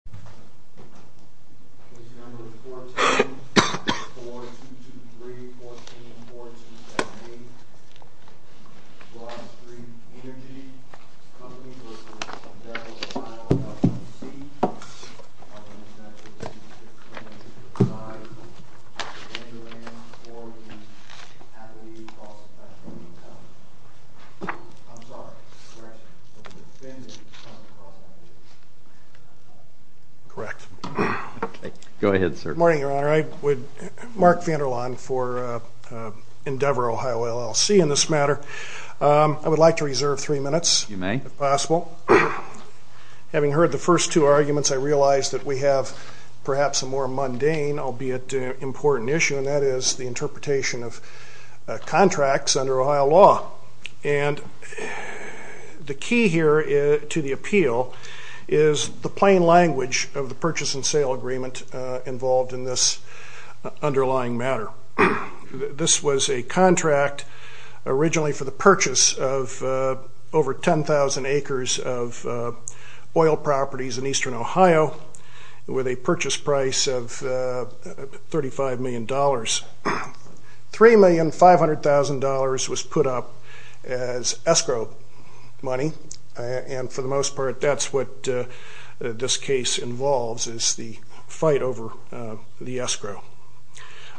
Case No. 14-4223-14-4278, Broad Street Energy Company v. Devils of Iowa LLC, Mark Vander Laan for Endeavor Ohio LLC in this matter. I would like to reserve three minutes if possible. Having heard the first two arguments, I realized that we have perhaps a more mundane, albeit important issue, and that is the interpretation of contracts under Ohio law. And the key here to the appeal is the plain language of the purchase and sale agreement involved in this underlying matter. This was a contract originally for the purchase of over 10,000 acres of oil properties in eastern Ohio with a purchase price of $35 million. $3,500,000 was put up as escrow money, and for the most part, that's what this case involves, is the fight over the escrow.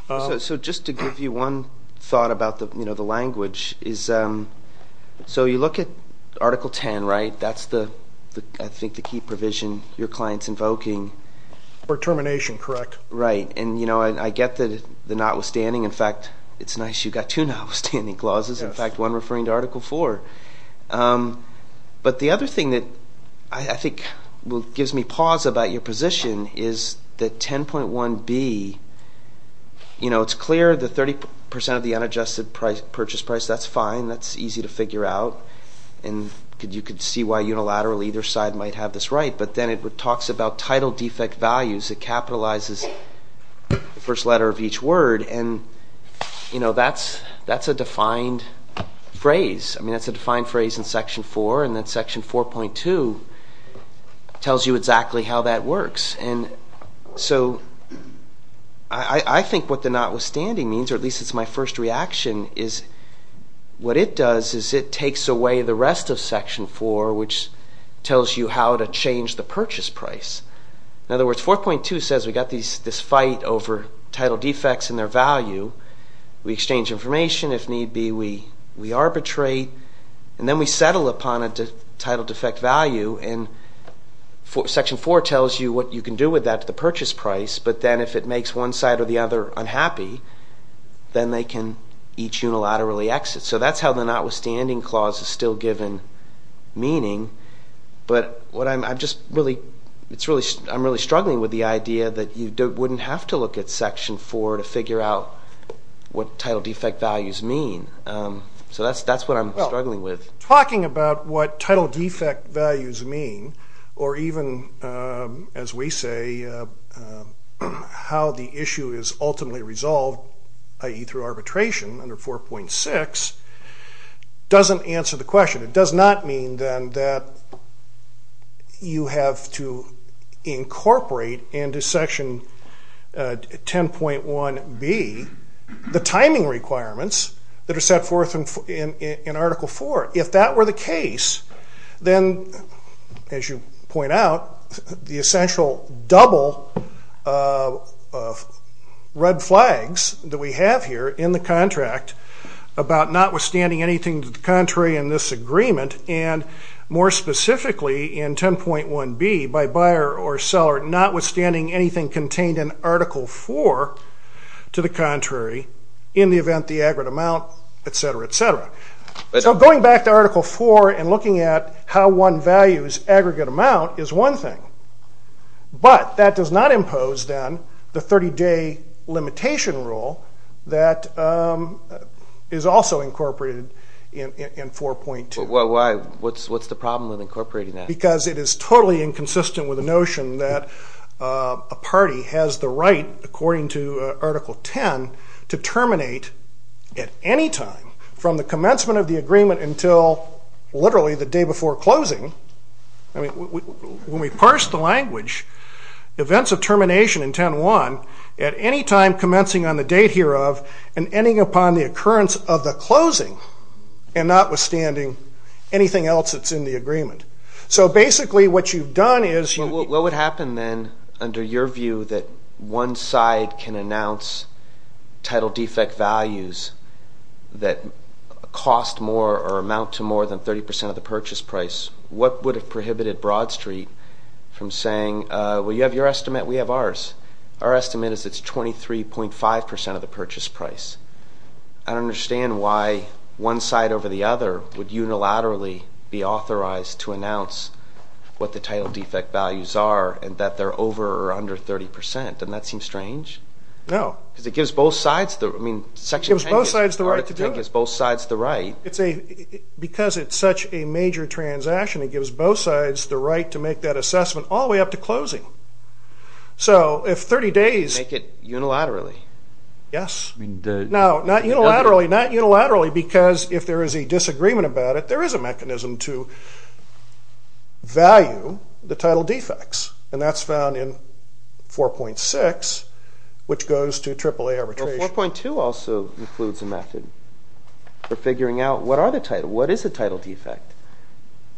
So just to give you one thought about the language, so you look at Article 10, right? That's, I think, the key provision your client's invoking. For termination, correct. Right, and I get the notwithstanding. In fact, it's nice you've got two notwithstanding clauses. In fact, one referring to Article 4. But the other thing that I think gives me pause about your position is that 10.1b, you know, it's clear that 30% of the unadjusted purchase price, that's fine. That's easy to figure out, and you could see why unilaterally either side might have this right. But then it talks about title defect values. It capitalizes the first letter of each word, and, you know, that's a defined phrase. I mean, that's a defined phrase in Section 4, and then Section 4.2 tells you exactly how that works. And so I think what the notwithstanding means, or at least it's my first reaction, is what it does is it takes away the rest of Section 4, which tells you how to change the purchase price. In other words, 4.2 says we've got this fight over title defects and their value. We exchange information. If need be, we arbitrate. And then we settle upon a title defect value, and Section 4 tells you what you can do with that to the purchase price. But then if it makes one side or the other unhappy, then they can each unilaterally exit. So that's how the notwithstanding clause is still given meaning. But I'm really struggling with the idea that you wouldn't have to look at Section 4 to figure out what title defect values mean. So that's what I'm struggling with. Well, talking about what title defect values mean, or even, as we say, how the issue is ultimately resolved, i.e. through arbitration under 4.6, doesn't answer the question. It does not mean, then, that you have to incorporate into Section 10.1b the timing requirements that are set forth in Article 4. If that were the case, then, as you point out, the essential double of red flags that we have here in the contract about notwithstanding anything to the contrary in this agreement, and more specifically in 10.1b, by buyer or seller, notwithstanding anything contained in Article 4 to the contrary, in the event the aggregate amount, etc., etc. So going back to Article 4 and looking at how one values aggregate amount is one thing. But that does not impose, then, the 30-day limitation rule that is also incorporated in 4.2. Why? What's the problem with incorporating that? Because it is totally inconsistent with the notion that a party has the right, according to Article 10, to terminate at any time from the commencement of the agreement until literally the day before closing. When we parse the language, events of termination in 10.1, at any time commencing on the date hereof and ending upon the occurrence of the closing, and notwithstanding anything else that's in the agreement. So basically what you've done is... What would happen, then, under your view, that one side can announce title defect values that cost more or amount to more than 30% of the purchase price? What would have prohibited Broad Street from saying, well, you have your estimate, we have ours. Our estimate is it's 23.5% of the purchase price. I don't understand why one side over the other would unilaterally be authorized to announce what the title defect values are and that they're over or under 30%. Doesn't that seem strange? No. Because it gives both sides the... I mean, Section 10 gives both sides the right. Because it's such a major transaction, it gives both sides the right to make that assessment all the way up to closing. So if 30 days... Make it unilaterally. Yes. No, not unilaterally. Not unilaterally because if there is a disagreement about it, there is a mechanism to value the title defects, and that's found in 4.6, which goes to AAA arbitration. 4.2 also includes a method for figuring out what are the title, what is a title defect,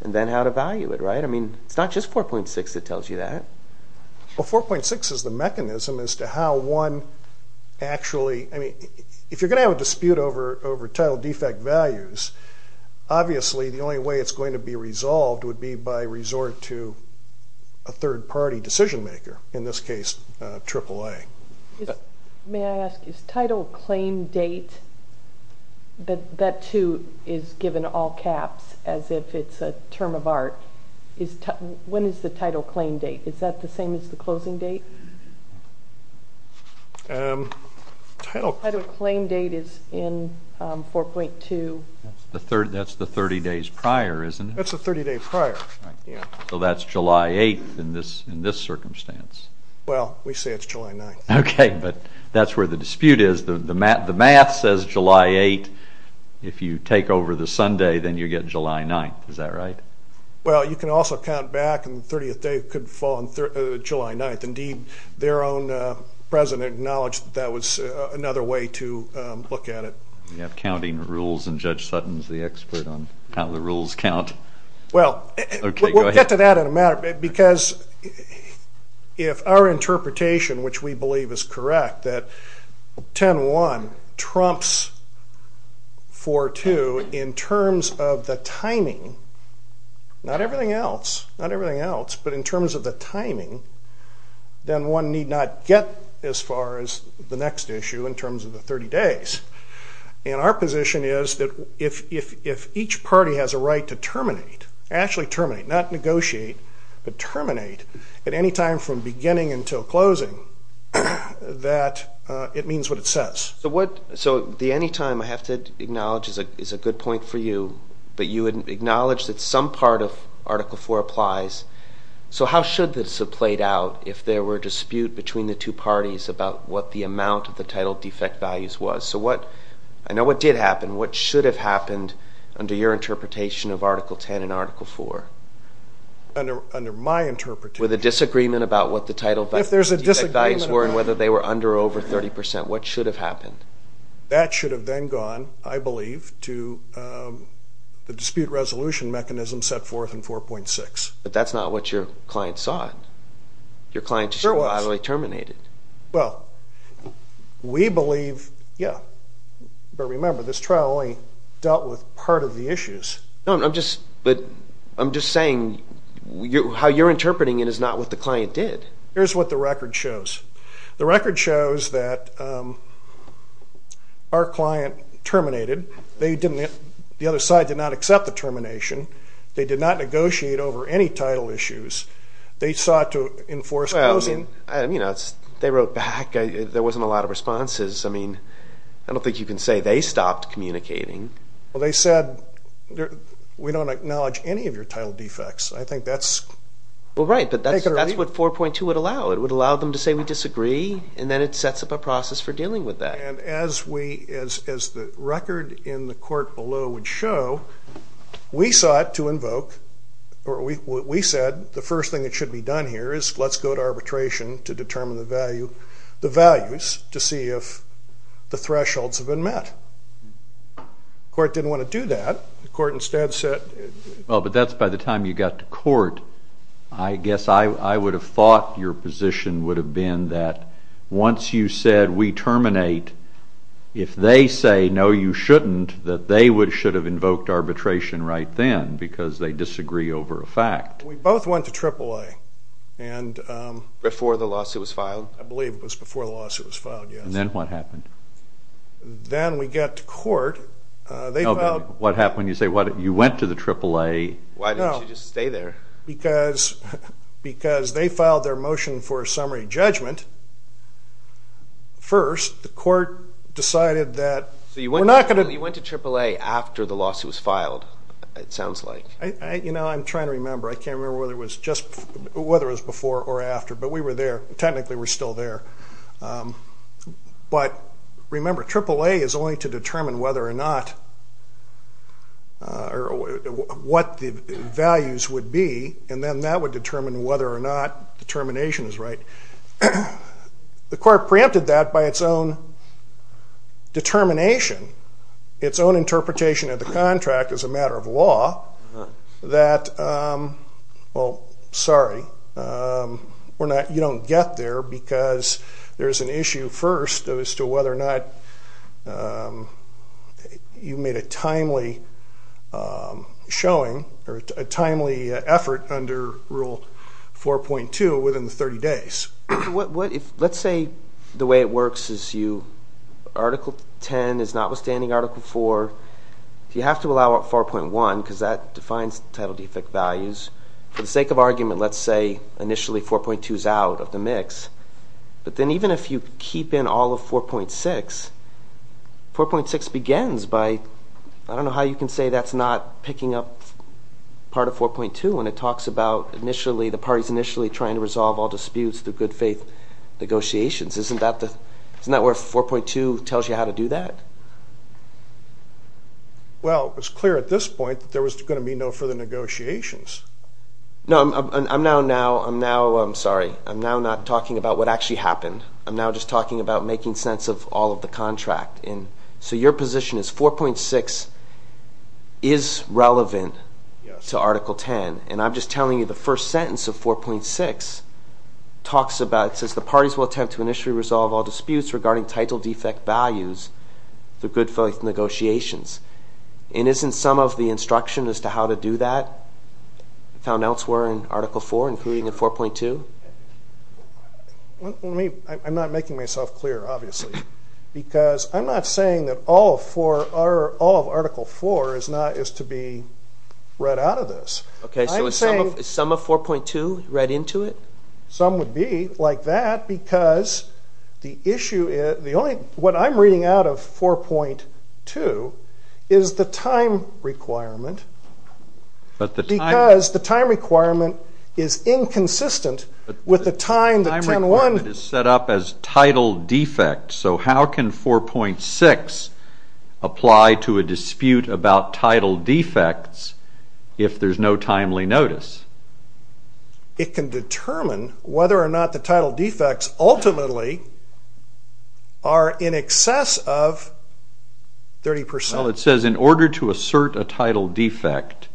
and then how to value it, right? I mean, it's not just 4.6 that tells you that. Well, 4.6 is the mechanism as to how one actually... I mean, if you're going to have a dispute over title defect values, obviously the only way it's going to be resolved would be by resort to a third-party decision maker, in this case AAA. May I ask, is title claim date, that too is given all caps as if it's a term of art, when is the title claim date? Is that the same as the closing date? Title claim date is in 4.2. That's the 30 days prior, isn't it? That's the 30 days prior. So that's July 8th in this circumstance. Well, we say it's July 9th. Okay, but that's where the dispute is. The math says July 8th. If you take over the Sunday, then you get July 9th. Is that right? Well, you can also count back, and the 30th day could fall on July 9th. Indeed, their own president acknowledged that that was another way to look at it. You have counting rules, and Judge Sutton is the expert on how the rules count. Well, we'll get to that in a minute. Because if our interpretation, which we believe is correct, that 10.1 trumps 4.2 in terms of the timing, not everything else, not everything else, but in terms of the timing, then one need not get as far as the next issue in terms of the 30 days. And our position is that if each party has a right to terminate, actually terminate, not negotiate, but terminate at any time from beginning until closing, that it means what it says. So the anytime I have to acknowledge is a good point for you, but you had acknowledged that some part of Article IV applies. So how should this have played out if there were a dispute between the two parties about what the amount of the title defect values was? So I know what did happen. What should have happened under your interpretation of Article X and Article IV? Under my interpretation. With a disagreement about what the title defect values were and whether they were under or over 30%. What should have happened? That should have then gone, I believe, to the dispute resolution mechanism set forth in 4.6. But that's not what your client saw. Your client just automatically terminated. Well, we believe, yeah. But remember, this trial only dealt with part of the issues. No, I'm just saying how you're interpreting it is not what the client did. Here's what the record shows. The record shows that our client terminated. The other side did not accept the termination. They did not negotiate over any title issues. They sought to enforce closing. I mean, you know, they wrote back. There wasn't a lot of responses. I mean, I don't think you can say they stopped communicating. Well, they said, we don't acknowledge any of your title defects. I think that's... Well, right, but that's what 4.2 would allow. It would allow them to say we disagree, and then it sets up a process for dealing with that. We said the first thing that should be done here is let's go to arbitration to determine the values to see if the thresholds have been met. The court didn't want to do that. The court instead said... Well, but that's by the time you got to court. I guess I would have thought your position would have been that once you said we terminate, if they say, no, you shouldn't, that they should have invoked arbitration right then because they disagree over a fact. We both went to AAA. Before the lawsuit was filed? I believe it was before the lawsuit was filed, yes. And then what happened? Then we got to court. Oh, but what happened? You say you went to the AAA. Why didn't you just stay there? Because they filed their motion for a summary judgment first. The court decided that we're not going to... You know, I'm trying to remember. I can't remember whether it was before or after, but we were there. Technically, we're still there. But remember, AAA is only to determine what the values would be, and then that would determine whether or not determination is right. The court preempted that by its own determination, its own interpretation of the contract as a matter of law, that, well, sorry, you don't get there because there's an issue first as to whether or not you made a timely showing or a timely effort under Rule 4.2 within 30 days. Let's say the way it works is you, Article 10 is notwithstanding Article 4, you have to allow up 4.1 because that defines title defect values. For the sake of argument, let's say initially 4.2 is out of the mix. But then even if you keep in all of 4.6, 4.6 begins by, I don't know how you can say that's not picking up part of 4.2 when it talks about the parties initially trying to resolve all disputes through good faith negotiations. Isn't that where 4.2 tells you how to do that? Well, it was clear at this point that there was going to be no further negotiations. No, I'm now not talking about what actually happened. I'm now just talking about making sense of all of the contract. So your position is 4.6 is relevant to Article 10, and I'm just telling you the first sentence of 4.6 talks about, it says the parties will attempt to initially resolve all disputes regarding title defect values through good faith negotiations. Isn't some of the instruction as to how to do that found elsewhere in Article 4, including in 4.2? I'm not making myself clear, obviously, because I'm not saying that all of Article 4 is to be read out of this. Okay, so is some of 4.2 read into it? Some would be like that because the issue is, what I'm reading out of 4.2 is the time requirement because the time requirement is inconsistent with the time that 10.1 is set up as title defect. So how can 4.6 apply to a dispute about title defects if there's no timely notice? It can determine whether or not the title defects ultimately are in excess of 30%. Well, it says in order to assert a title defect,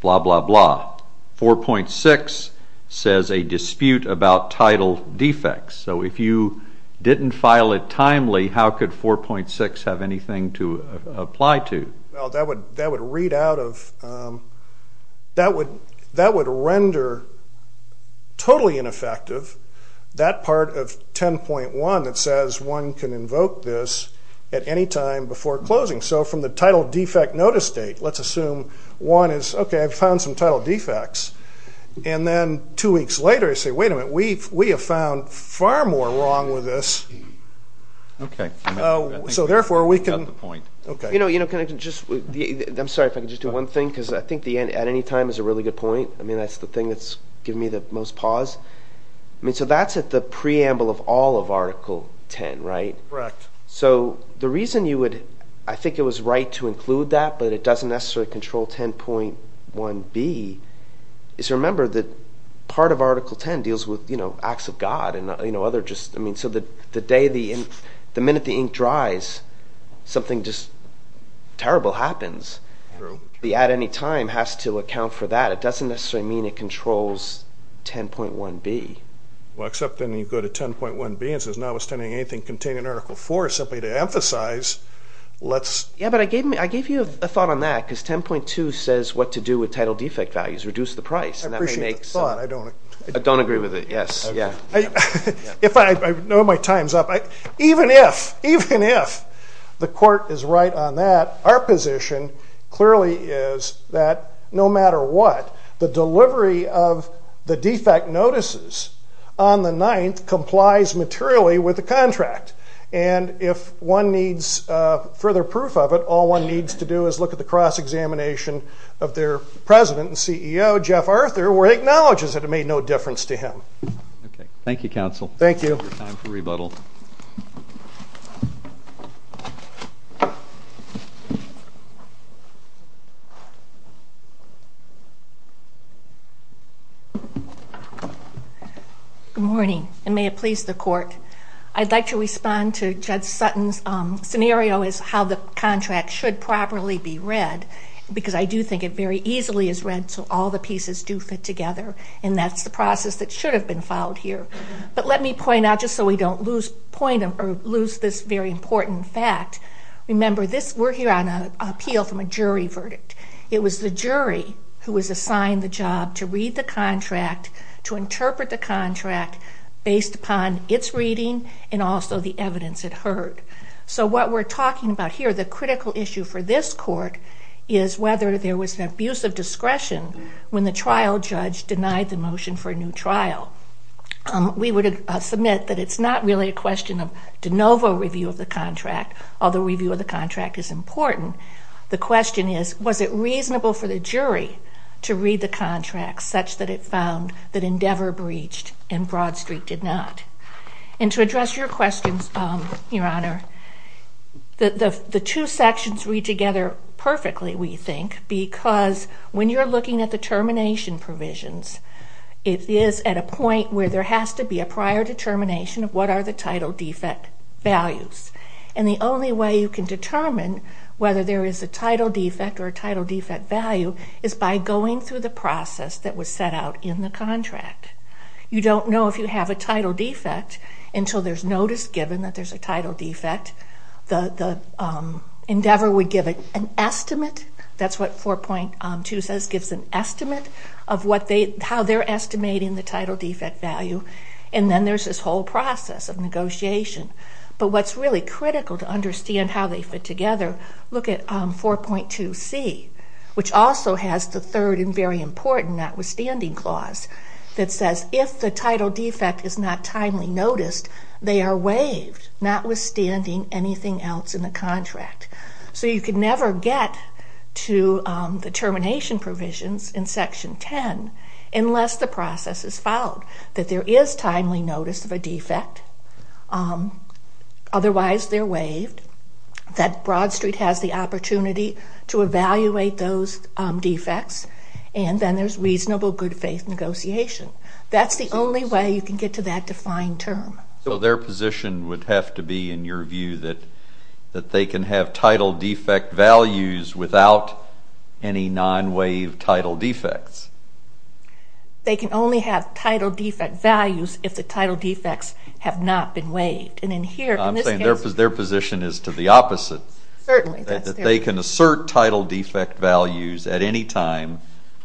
blah, blah, blah, 4.6 says a dispute about title defects. So if you didn't file it timely, how could 4.6 have anything to apply to? That would render totally ineffective that part of 10.1 that says one can invoke this at any time before closing. So from the title defect notice date, let's assume one is, okay, I've found some title defects. And then two weeks later, you say, wait a minute, we have found far more wrong with this. Okay. So therefore, we can – You've got the point. Okay. You know, can I just – I'm sorry if I could just do one thing because I think the at any time is a really good point. I mean, that's the thing that's given me the most pause. I mean, so that's at the preamble of all of Article 10, right? Correct. So the reason you would – I think it was right to include that, but it doesn't necessarily control 10.1b is remember that part of Article 10 deals with acts of God and other just – I mean, so the day the – the minute the ink dries, something just terrible happens. True. The at any time has to account for that. It doesn't necessarily mean it controls 10.1b. Well, except then you go to 10.1b and it says, notwithstanding anything contained in Article 4, simply to emphasize, let's – Yeah, but I gave you a thought on that because 10.2 says what to do with title defect values, reduce the price, and that makes – I appreciate the thought. I don't – I don't agree with it. Yes. Yeah. If I – I know my time's up. Even if – even if the court is right on that, our position clearly is that no matter what, the delivery of the defect notices on the 9th complies materially with the contract. And if one needs further proof of it, all one needs to do is look at the cross-examination of their president and CEO, Jeff Arthur, where he acknowledges that it made no difference to him. Okay. Thank you, counsel. Thank you. Your time for rebuttal. Good morning, and may it please the court. I'd like to respond to Judge Sutton's scenario as how the contract should properly be read because I do think it very easily is read so all the pieces do fit together, and that's the process that should have been followed here. But let me point out, just so we don't lose point or lose this very important fact, remember this – we're here on an appeal from a jury verdict. It was the jury who was assigned the job to read the contract, to interpret the contract based upon its reading and also the evidence it heard. So what we're talking about here, the critical issue for this court, is whether there was an abuse of discretion when the trial judge denied the motion for a new trial. We would submit that it's not really a question of de novo review of the contract, although review of the contract is important. The question is, was it reasonable for the jury to read the contract such that it found that Endeavor breached and Broad Street did not? And to address your questions, Your Honor, the two sections read together perfectly, we think, because when you're looking at the termination provisions, it is at a point where there has to be a prior determination of what are the title defect values. And the only way you can determine whether there is a title defect or a title defect value is by going through the process that was set out in the contract. You don't know if you have a title defect until there's notice given that there's a title defect. Endeavor would give an estimate, that's what 4.2 says, gives an estimate of how they're estimating the title defect value, and then there's this whole process of negotiation. But what's really critical to understand how they fit together, look at 4.2C, which also has the third and very important notwithstanding clause, that says if the title defect is not timely noticed, they are waived, notwithstanding anything else in the contract. So you can never get to the termination provisions in Section 10 unless the process is followed, that there is timely notice of a defect, otherwise they're waived, that Broad Street has the opportunity to evaluate those defects, and then there's reasonable good faith negotiation. That's the only way you can get to that defined term. So their position would have to be, in your view, that they can have title defect values without any non-waived title defects? They can only have title defect values if the title defects have not been waived. I'm saying their position is to the opposite. Certainly. That they can assert title defect values at any time,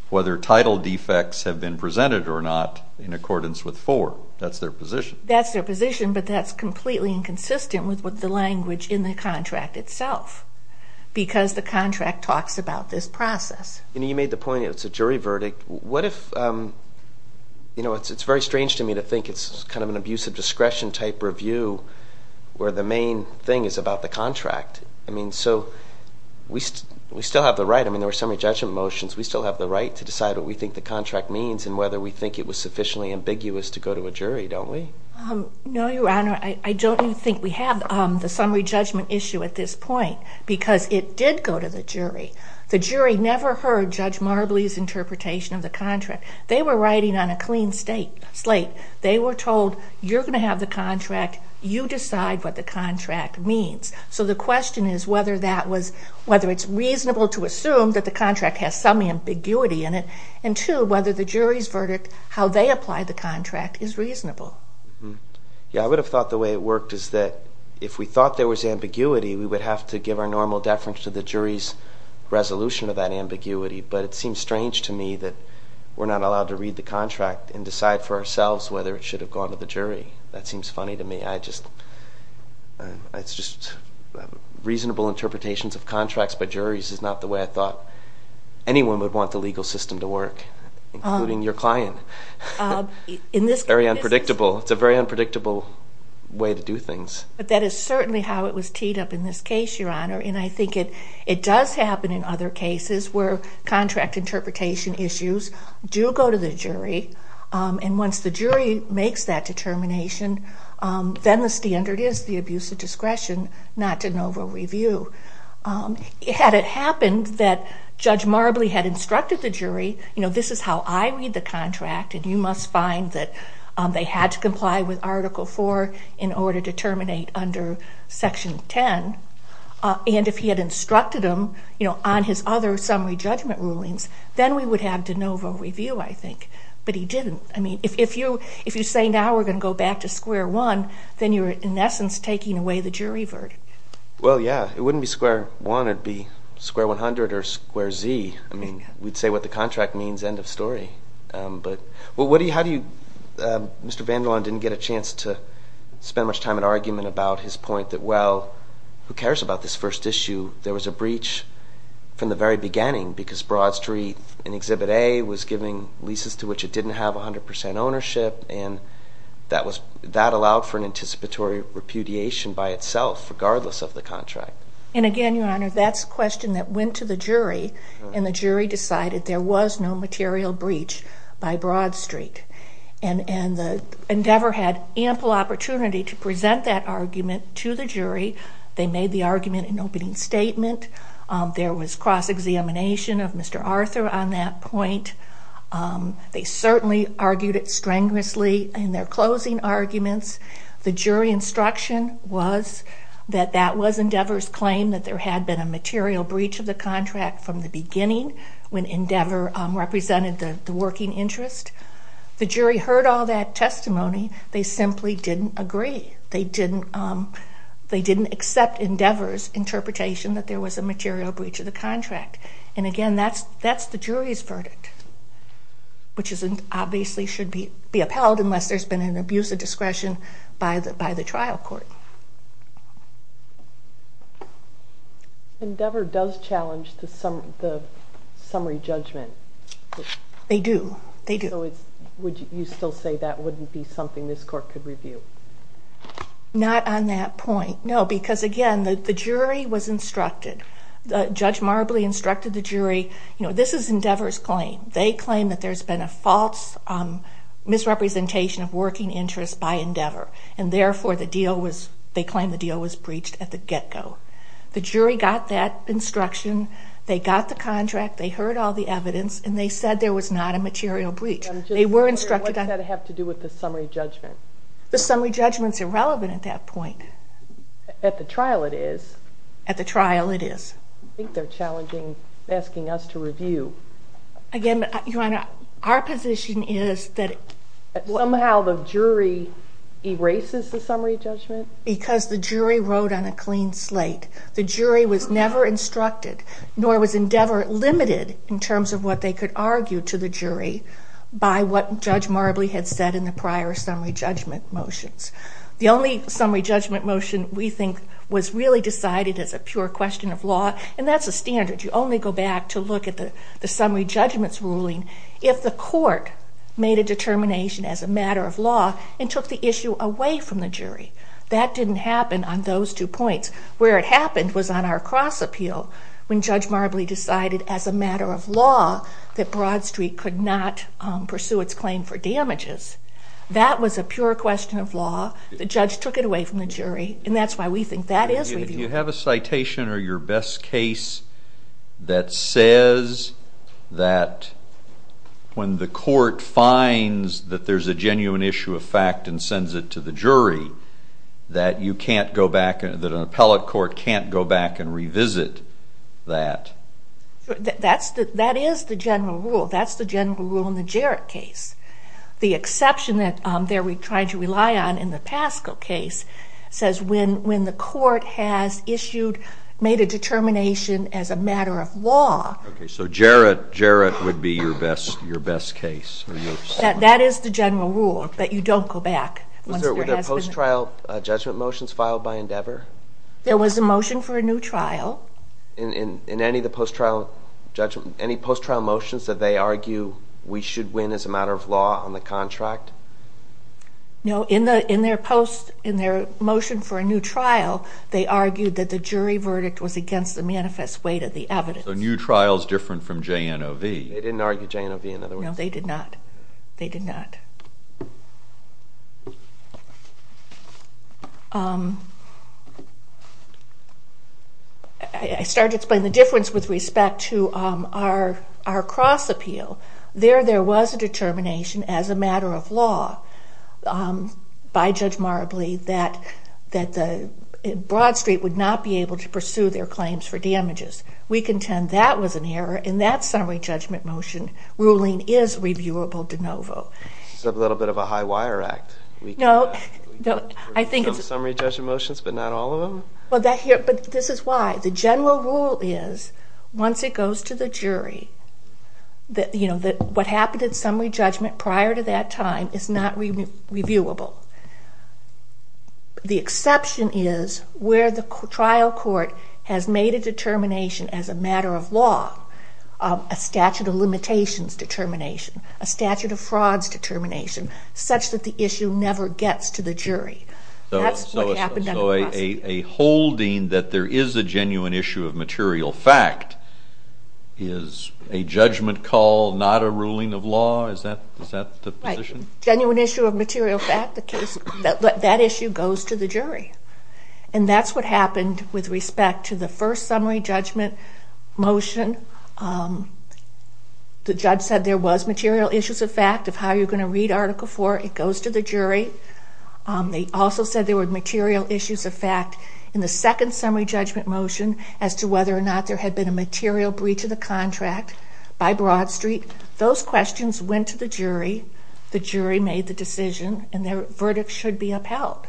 whether title defects have been presented or not, in accordance with 4. That's their position. That's their position, but that's completely inconsistent with the language in the contract itself, because the contract talks about this process. You know, you made the point it's a jury verdict. What if, you know, it's very strange to me to think it's kind of an abusive discretion type review where the main thing is about the contract. I mean, so we still have the right. I mean, there were summary judgment motions. We still have the right to decide what we think the contract means and whether we think it was sufficiently ambiguous to go to a jury, don't we? No, Your Honor. I don't even think we have the summary judgment issue at this point, because it did go to the jury. The jury never heard Judge Marbley's interpretation of the contract. They were writing on a clean slate. They were told, you're going to have the contract. You decide what the contract means. So the question is whether it's reasonable to assume that the contract has some ambiguity in it and, two, whether the jury's verdict, how they apply the contract, is reasonable. Yeah, I would have thought the way it worked is that if we thought there was ambiguity, we would have to give our normal deference to the jury's resolution of that ambiguity. But it seems strange to me that we're not allowed to read the contract and decide for ourselves whether it should have gone to the jury. That seems funny to me. It's just reasonable interpretations of contracts by juries is not the way I thought anyone would want the legal system to work, including your client. Very unpredictable. It's a very unpredictable way to do things. But that is certainly how it was teed up in this case, Your Honor, and I think it does happen in other cases where contract interpretation issues do go to the jury, and once the jury makes that determination, then the standard is the abuse of discretion, not de novo review. Had it happened that Judge Marbley had instructed the jury, you know, this is how I read the contract, and you must find that they had to comply with Article 4 in order to terminate under Section 10, and if he had instructed them, you know, on his other summary judgment rulings, then we would have de novo review, I think. But he didn't. I mean, if you say now we're going to go back to square one, then you're in essence taking away the jury verdict. Well, yeah. It wouldn't be square one. It would be square 100 or square Z. I mean, we'd say what the contract means, end of story. How do you – Mr. Vandalon didn't get a chance to spend much time in argument about his point that, well, who cares about this first issue? There was a breach from the very beginning because Broad Street in Exhibit A was giving leases to which it didn't have 100 percent ownership, and that allowed for an anticipatory repudiation by itself, regardless of the contract. And again, Your Honor, that's a question that went to the jury, and the jury decided there was no material breach by Broad Street. And Endeavor had ample opportunity to present that argument to the jury. They made the argument in opening statement. There was cross-examination of Mr. Arthur on that point. They certainly argued it strenuously in their closing arguments. The jury instruction was that that was Endeavor's claim, that there had been a material breach of the contract from the beginning when Endeavor represented the working interest. The jury heard all that testimony. They simply didn't agree. They didn't accept Endeavor's interpretation that there was a material breach of the contract. And again, that's the jury's verdict, which obviously should be upheld unless there's been an abuse of discretion by the trial court. Endeavor does challenge the summary judgment. They do. They do. So would you still say that wouldn't be something this court could review? Not on that point, no, because again, the jury was instructed. Judge Marbley instructed the jury, you know, this is Endeavor's claim. They claim that there's been a false misrepresentation of working interest by Endeavor, and therefore they claim the deal was breached at the get-go. The jury got that instruction. They got the contract. They heard all the evidence, and they said there was not a material breach. What does that have to do with the summary judgment? The summary judgment's irrelevant at that point. At the trial, it is. At the trial, it is. I think they're challenging, asking us to review. Again, Your Honor, our position is that somehow the jury erases the summary judgment. Because the jury wrote on a clean slate. The jury was never instructed, nor was Endeavor limited in terms of what they could argue to the jury by what Judge Marbley had said in the prior summary judgment motions. The only summary judgment motion we think was really decided as a pure question of law, and that's a standard. You only go back to look at the summary judgment's ruling if the court made a determination as a matter of law and took the issue away from the jury. That didn't happen on those two points. Where it happened was on our cross-appeal when Judge Marbley decided as a matter of law that Broad Street could not pursue its claim for damages. That was a pure question of law. The judge took it away from the jury, and that's why we think that is reviewed. Do you have a citation or your best case that says that when the court finds that there's a genuine issue of fact and sends it to the jury, that an appellate court can't go back and revisit that? That is the general rule. That's the general rule in the Jarrett case. The exception that they're trying to rely on in the Pasco case says when the court has issued, made a determination as a matter of law. Okay, so Jarrett would be your best case. That is the general rule, but you don't go back. Were there post-trial judgment motions filed by Endeavor? There was a motion for a new trial. In any of the post-trial motions, did they argue we should win as a matter of law on the contract? No. In their motion for a new trial, they argued that the jury verdict was against the manifest weight of the evidence. So a new trial is different from JNOV. They didn't argue JNOV in other words? No, they did not. They did not. I started to explain the difference with respect to our cross appeal. There, there was a determination as a matter of law by Judge Marabli that Broad Street would not be able to pursue their claims for damages. We contend that was an error in that summary judgment motion. Ruling is reviewable JNOV. It's a little bit of a high wire act. No, I think it's... Summary judgment motions, but not all of them? But this is why. The general rule is, once it goes to the jury, that what happened in summary judgment prior to that time is not reviewable. The exception is where the trial court has made a determination as a matter of law, a statute of limitations determination, a statute of frauds determination, such that the issue never gets to the jury. That's what happened under cross appeal. So a holding that there is a genuine issue of material fact is a judgment call, not a ruling of law? Is that the position? Genuine issue of material fact, that issue goes to the jury. And that's what happened with respect to the first summary judgment motion. The judge said there was material issues of fact of how you're going to read Article 4. It goes to the jury. They also said there were material issues of fact in the second summary judgment motion as to whether or not there had been a material breach of the contract by Broad Street. Those questions went to the jury. The jury made the decision, and their verdict should be upheld.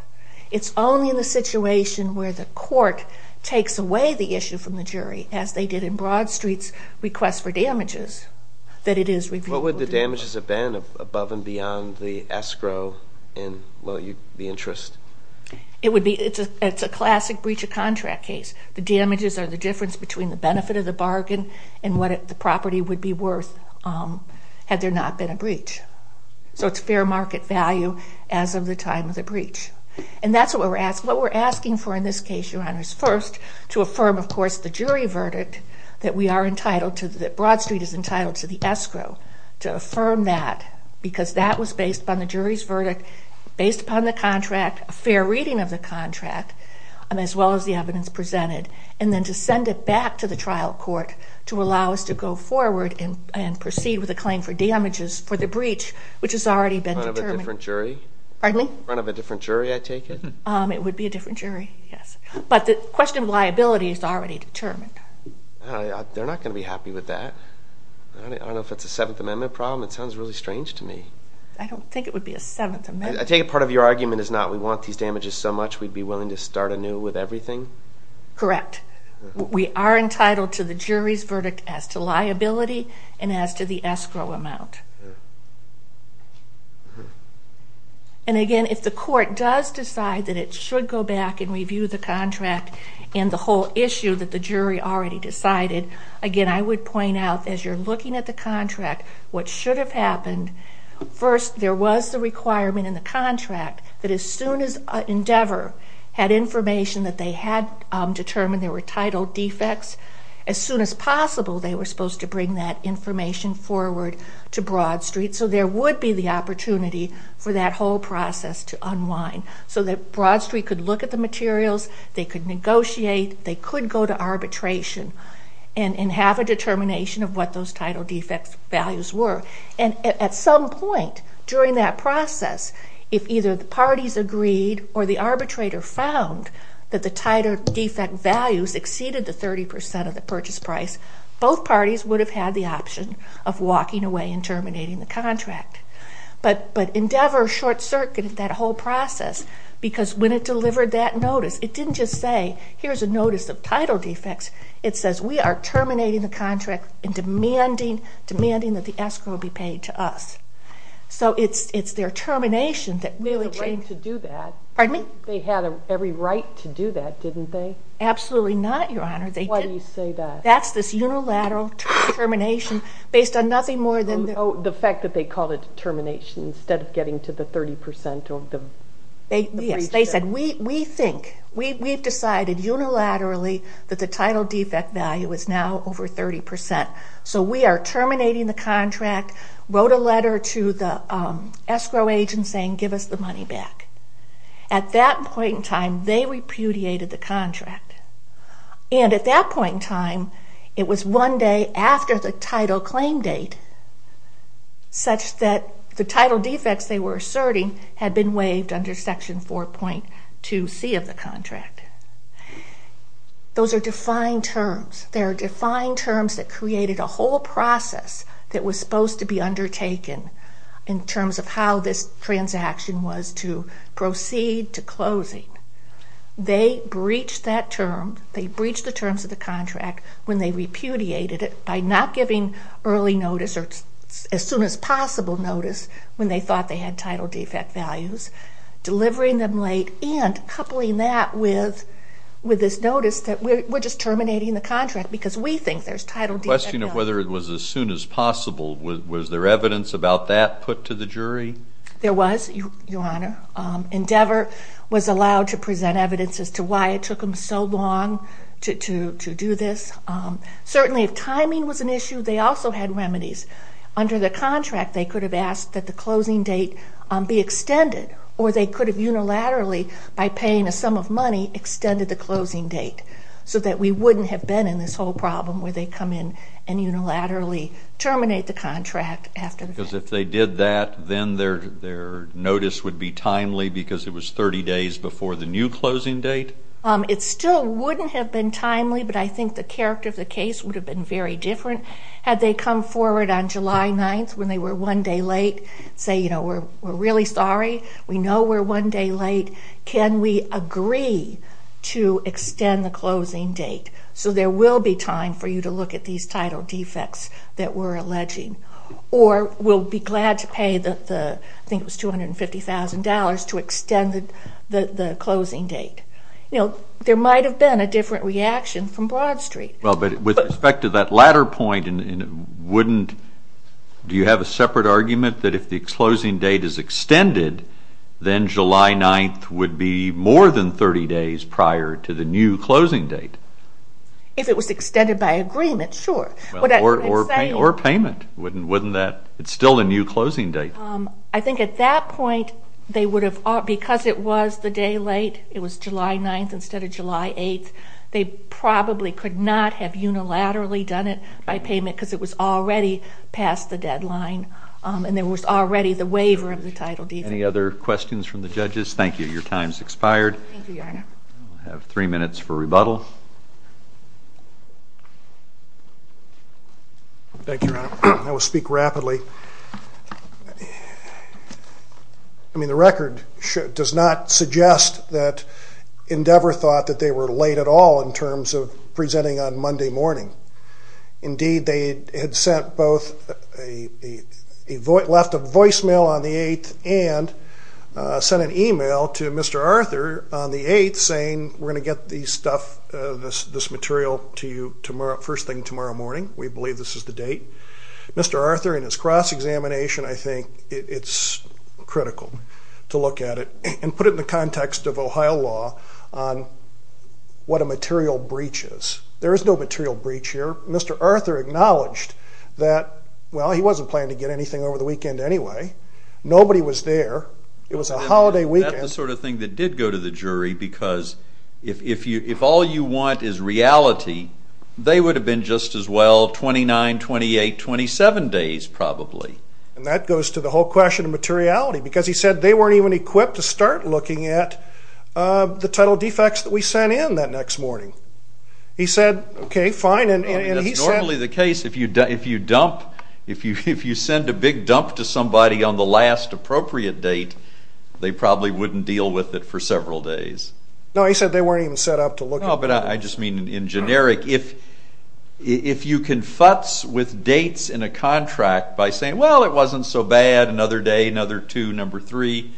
It's only in the situation where the court takes away the issue from the jury, as they did in Broad Street's request for damages, that it is reviewable. What would the damages have been above and beyond the escrow and the interest? It's a classic breach of contract case. The damages are the difference between the benefit of the bargain and what the property would be worth had there not been a breach. So it's fair market value as of the time of the breach. And that's what we're asking for in this case, Your Honors. First, to affirm, of course, the jury verdict that Broad Street is entitled to the escrow, to affirm that because that was based upon the jury's verdict, based upon the contract, a fair reading of the contract, as well as the evidence presented. And then to send it back to the trial court to allow us to go forward and proceed with a claim for damages for the breach, which has already been determined. In front of a different jury? Pardon me? In front of a different jury, I take it? It would be a different jury, yes. But the question of liability is already determined. They're not going to be happy with that. I don't know if it's a Seventh Amendment problem. It sounds really strange to me. I don't think it would be a Seventh Amendment. I take it part of your argument is not we want these damages so much we'd be willing to start anew with everything? Correct. We are entitled to the jury's verdict as to liability and as to the escrow amount. And, again, if the court does decide that it should go back and review the contract and the whole issue that the jury already decided, again, I would point out as you're looking at the contract what should have happened. First, there was the requirement in the contract that as soon as Endeavor had information that they had determined there were title defects, as soon as possible they were supposed to bring that information forward to Broad Street so there would be the opportunity for that whole process to unwind so that Broad Street could look at the materials, they could negotiate, they could go to arbitration and have a determination of what those title defects values were. And at some point during that process, if either the parties agreed or the arbitrator found that the title defect values exceeded the 30% of the purchase price, both parties would have had the option of walking away and terminating the contract. But Endeavor short-circuited that whole process because when it delivered that notice, it didn't just say here's a notice of title defects, it says we are terminating the contract and demanding that the escrow be paid to us. So it's their termination that really changed. But they didn't do that. They had every right to do that, didn't they? Absolutely not, Your Honor. Why do you say that? That's this unilateral termination based on nothing more than... The fact that they called it termination instead of getting to the 30% of the... Yes, they said we think, we've decided unilaterally that the title defect value is now over 30%. So we are terminating the contract, wrote a letter to the escrow agent saying give us the money back. At that point in time, they repudiated the contract. And at that point in time, it was one day after the title claim date, such that the title defects they were asserting had been waived under Section 4.2c of the contract. Those are defined terms. They are defined terms that created a whole process that was supposed to be undertaken in terms of how this transaction was to proceed to closing. They breached that term. They breached the terms of the contract when they repudiated it by not giving early notice or as soon as possible notice when they thought they had title defect values, delivering them late, and coupling that with this notice that we're just terminating the contract because we think there's title defect value. The question of whether it was as soon as possible, was there evidence about that put to the jury? There was, Your Honor. Endeavor was allowed to present evidence as to why it took them so long to do this. Certainly if timing was an issue, they also had remedies. Under the contract, they could have asked that the closing date be extended, or they could have unilaterally, by paying a sum of money, extended the closing date so that we wouldn't have been in this whole problem where they come in and unilaterally terminate the contract after the fact. Because if they did that, then their notice would be timely because it was 30 days before the new closing date? It still wouldn't have been timely, but I think the character of the case would have been very different had they come forward on July 9th when they were one day late, say, you know, we're really sorry, we know we're one day late, can we agree to extend the closing date so there will be time for you to look at these title defects that we're alleging, or we'll be glad to pay the, I think it was $250,000 to extend the closing date. You know, there might have been a different reaction from Broad Street. Well, but with respect to that latter point, wouldn't, do you have a separate argument that if the closing date is extended, then July 9th would be more than 30 days prior to the new closing date? If it was extended by agreement, sure. Or payment, wouldn't that, it's still a new closing date. I think at that point they would have, because it was the day late, it was July 9th instead of July 8th, they probably could not have unilaterally done it by payment because it was already past the deadline and there was already the waiver of the title defect. Any other questions from the judges? Thank you. Your time has expired. Thank you, Your Honor. We'll have three minutes for rebuttal. Thank you, Your Honor. I will speak rapidly. I mean, the record does not suggest that Endeavor thought that they were late at all in terms of presenting on Monday morning. Indeed, they had sent both, left a voicemail on the 8th and sent an email to Mr. Arthur on the 8th saying we're going to get this stuff, this material to you first thing tomorrow morning. We believe this is the date. Mr. Arthur, in his cross-examination, I think it's critical to look at it and put it in the context of Ohio law on what a material breach is. There is no material breach here. Mr. Arthur acknowledged that, well, he wasn't planning to get anything over the weekend anyway. Nobody was there. It was a holiday weekend. That's the sort of thing that did go to the jury because if all you want is reality, they would have been just as well 29, 28, 27 days probably. And that goes to the whole question of materiality because he said they weren't even equipped to start looking at the title defects that we sent in that next morning. He said, okay, fine. That's normally the case. If you dump, if you send a big dump to somebody on the last appropriate date, they probably wouldn't deal with it for several days. No, he said they weren't even set up to look at it. No, but I just mean in generic. If you can futz with dates in a contract by saying, well, it wasn't so bad, another day, another two, number three,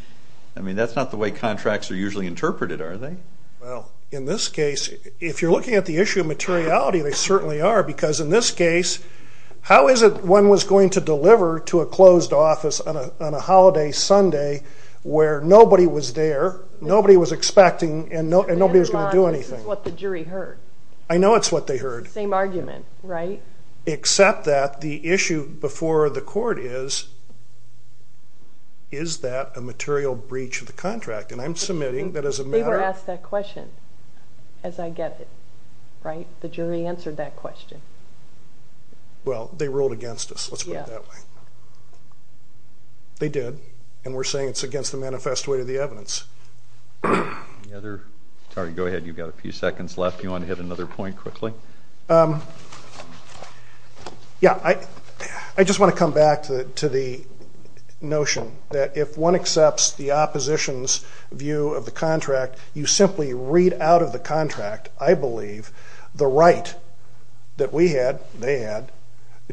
I mean that's not the way contracts are usually interpreted, are they? Well, in this case, if you're looking at the issue of materiality, they certainly are because in this case, how is it one was going to deliver to a closed office on a holiday Sunday where nobody was there, nobody was expecting, and nobody was going to do anything. This is what the jury heard. I know it's what they heard. Same argument, right? Except that the issue before the court is, is that a material breach of the contract? And I'm submitting that as a matter of ---- They were asked that question, as I get it, right? The jury answered that question. Well, they ruled against us. Let's put it that way. They did, and we're saying it's against the manifest way of the evidence. Any other? Sorry, go ahead. You've got a few seconds left. Do you want to hit another point quickly? Yeah. I just want to come back to the notion that if one accepts the opposition's view of the contract, you simply read out of the contract, I believe, the right that we had, they had,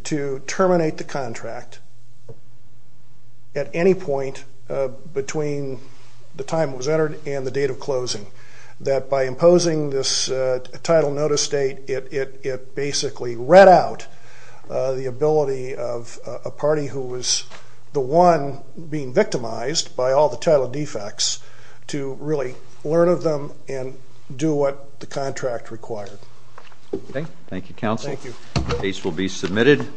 to terminate the contract at any point between the time it was entered and the date of closing, that by imposing this title notice date, it basically read out the ability of a party who was the one being victimized by all the title defects to really learn of them and do what the contract required. Okay. Thank you, counsel. Thank you. Case will be submitted.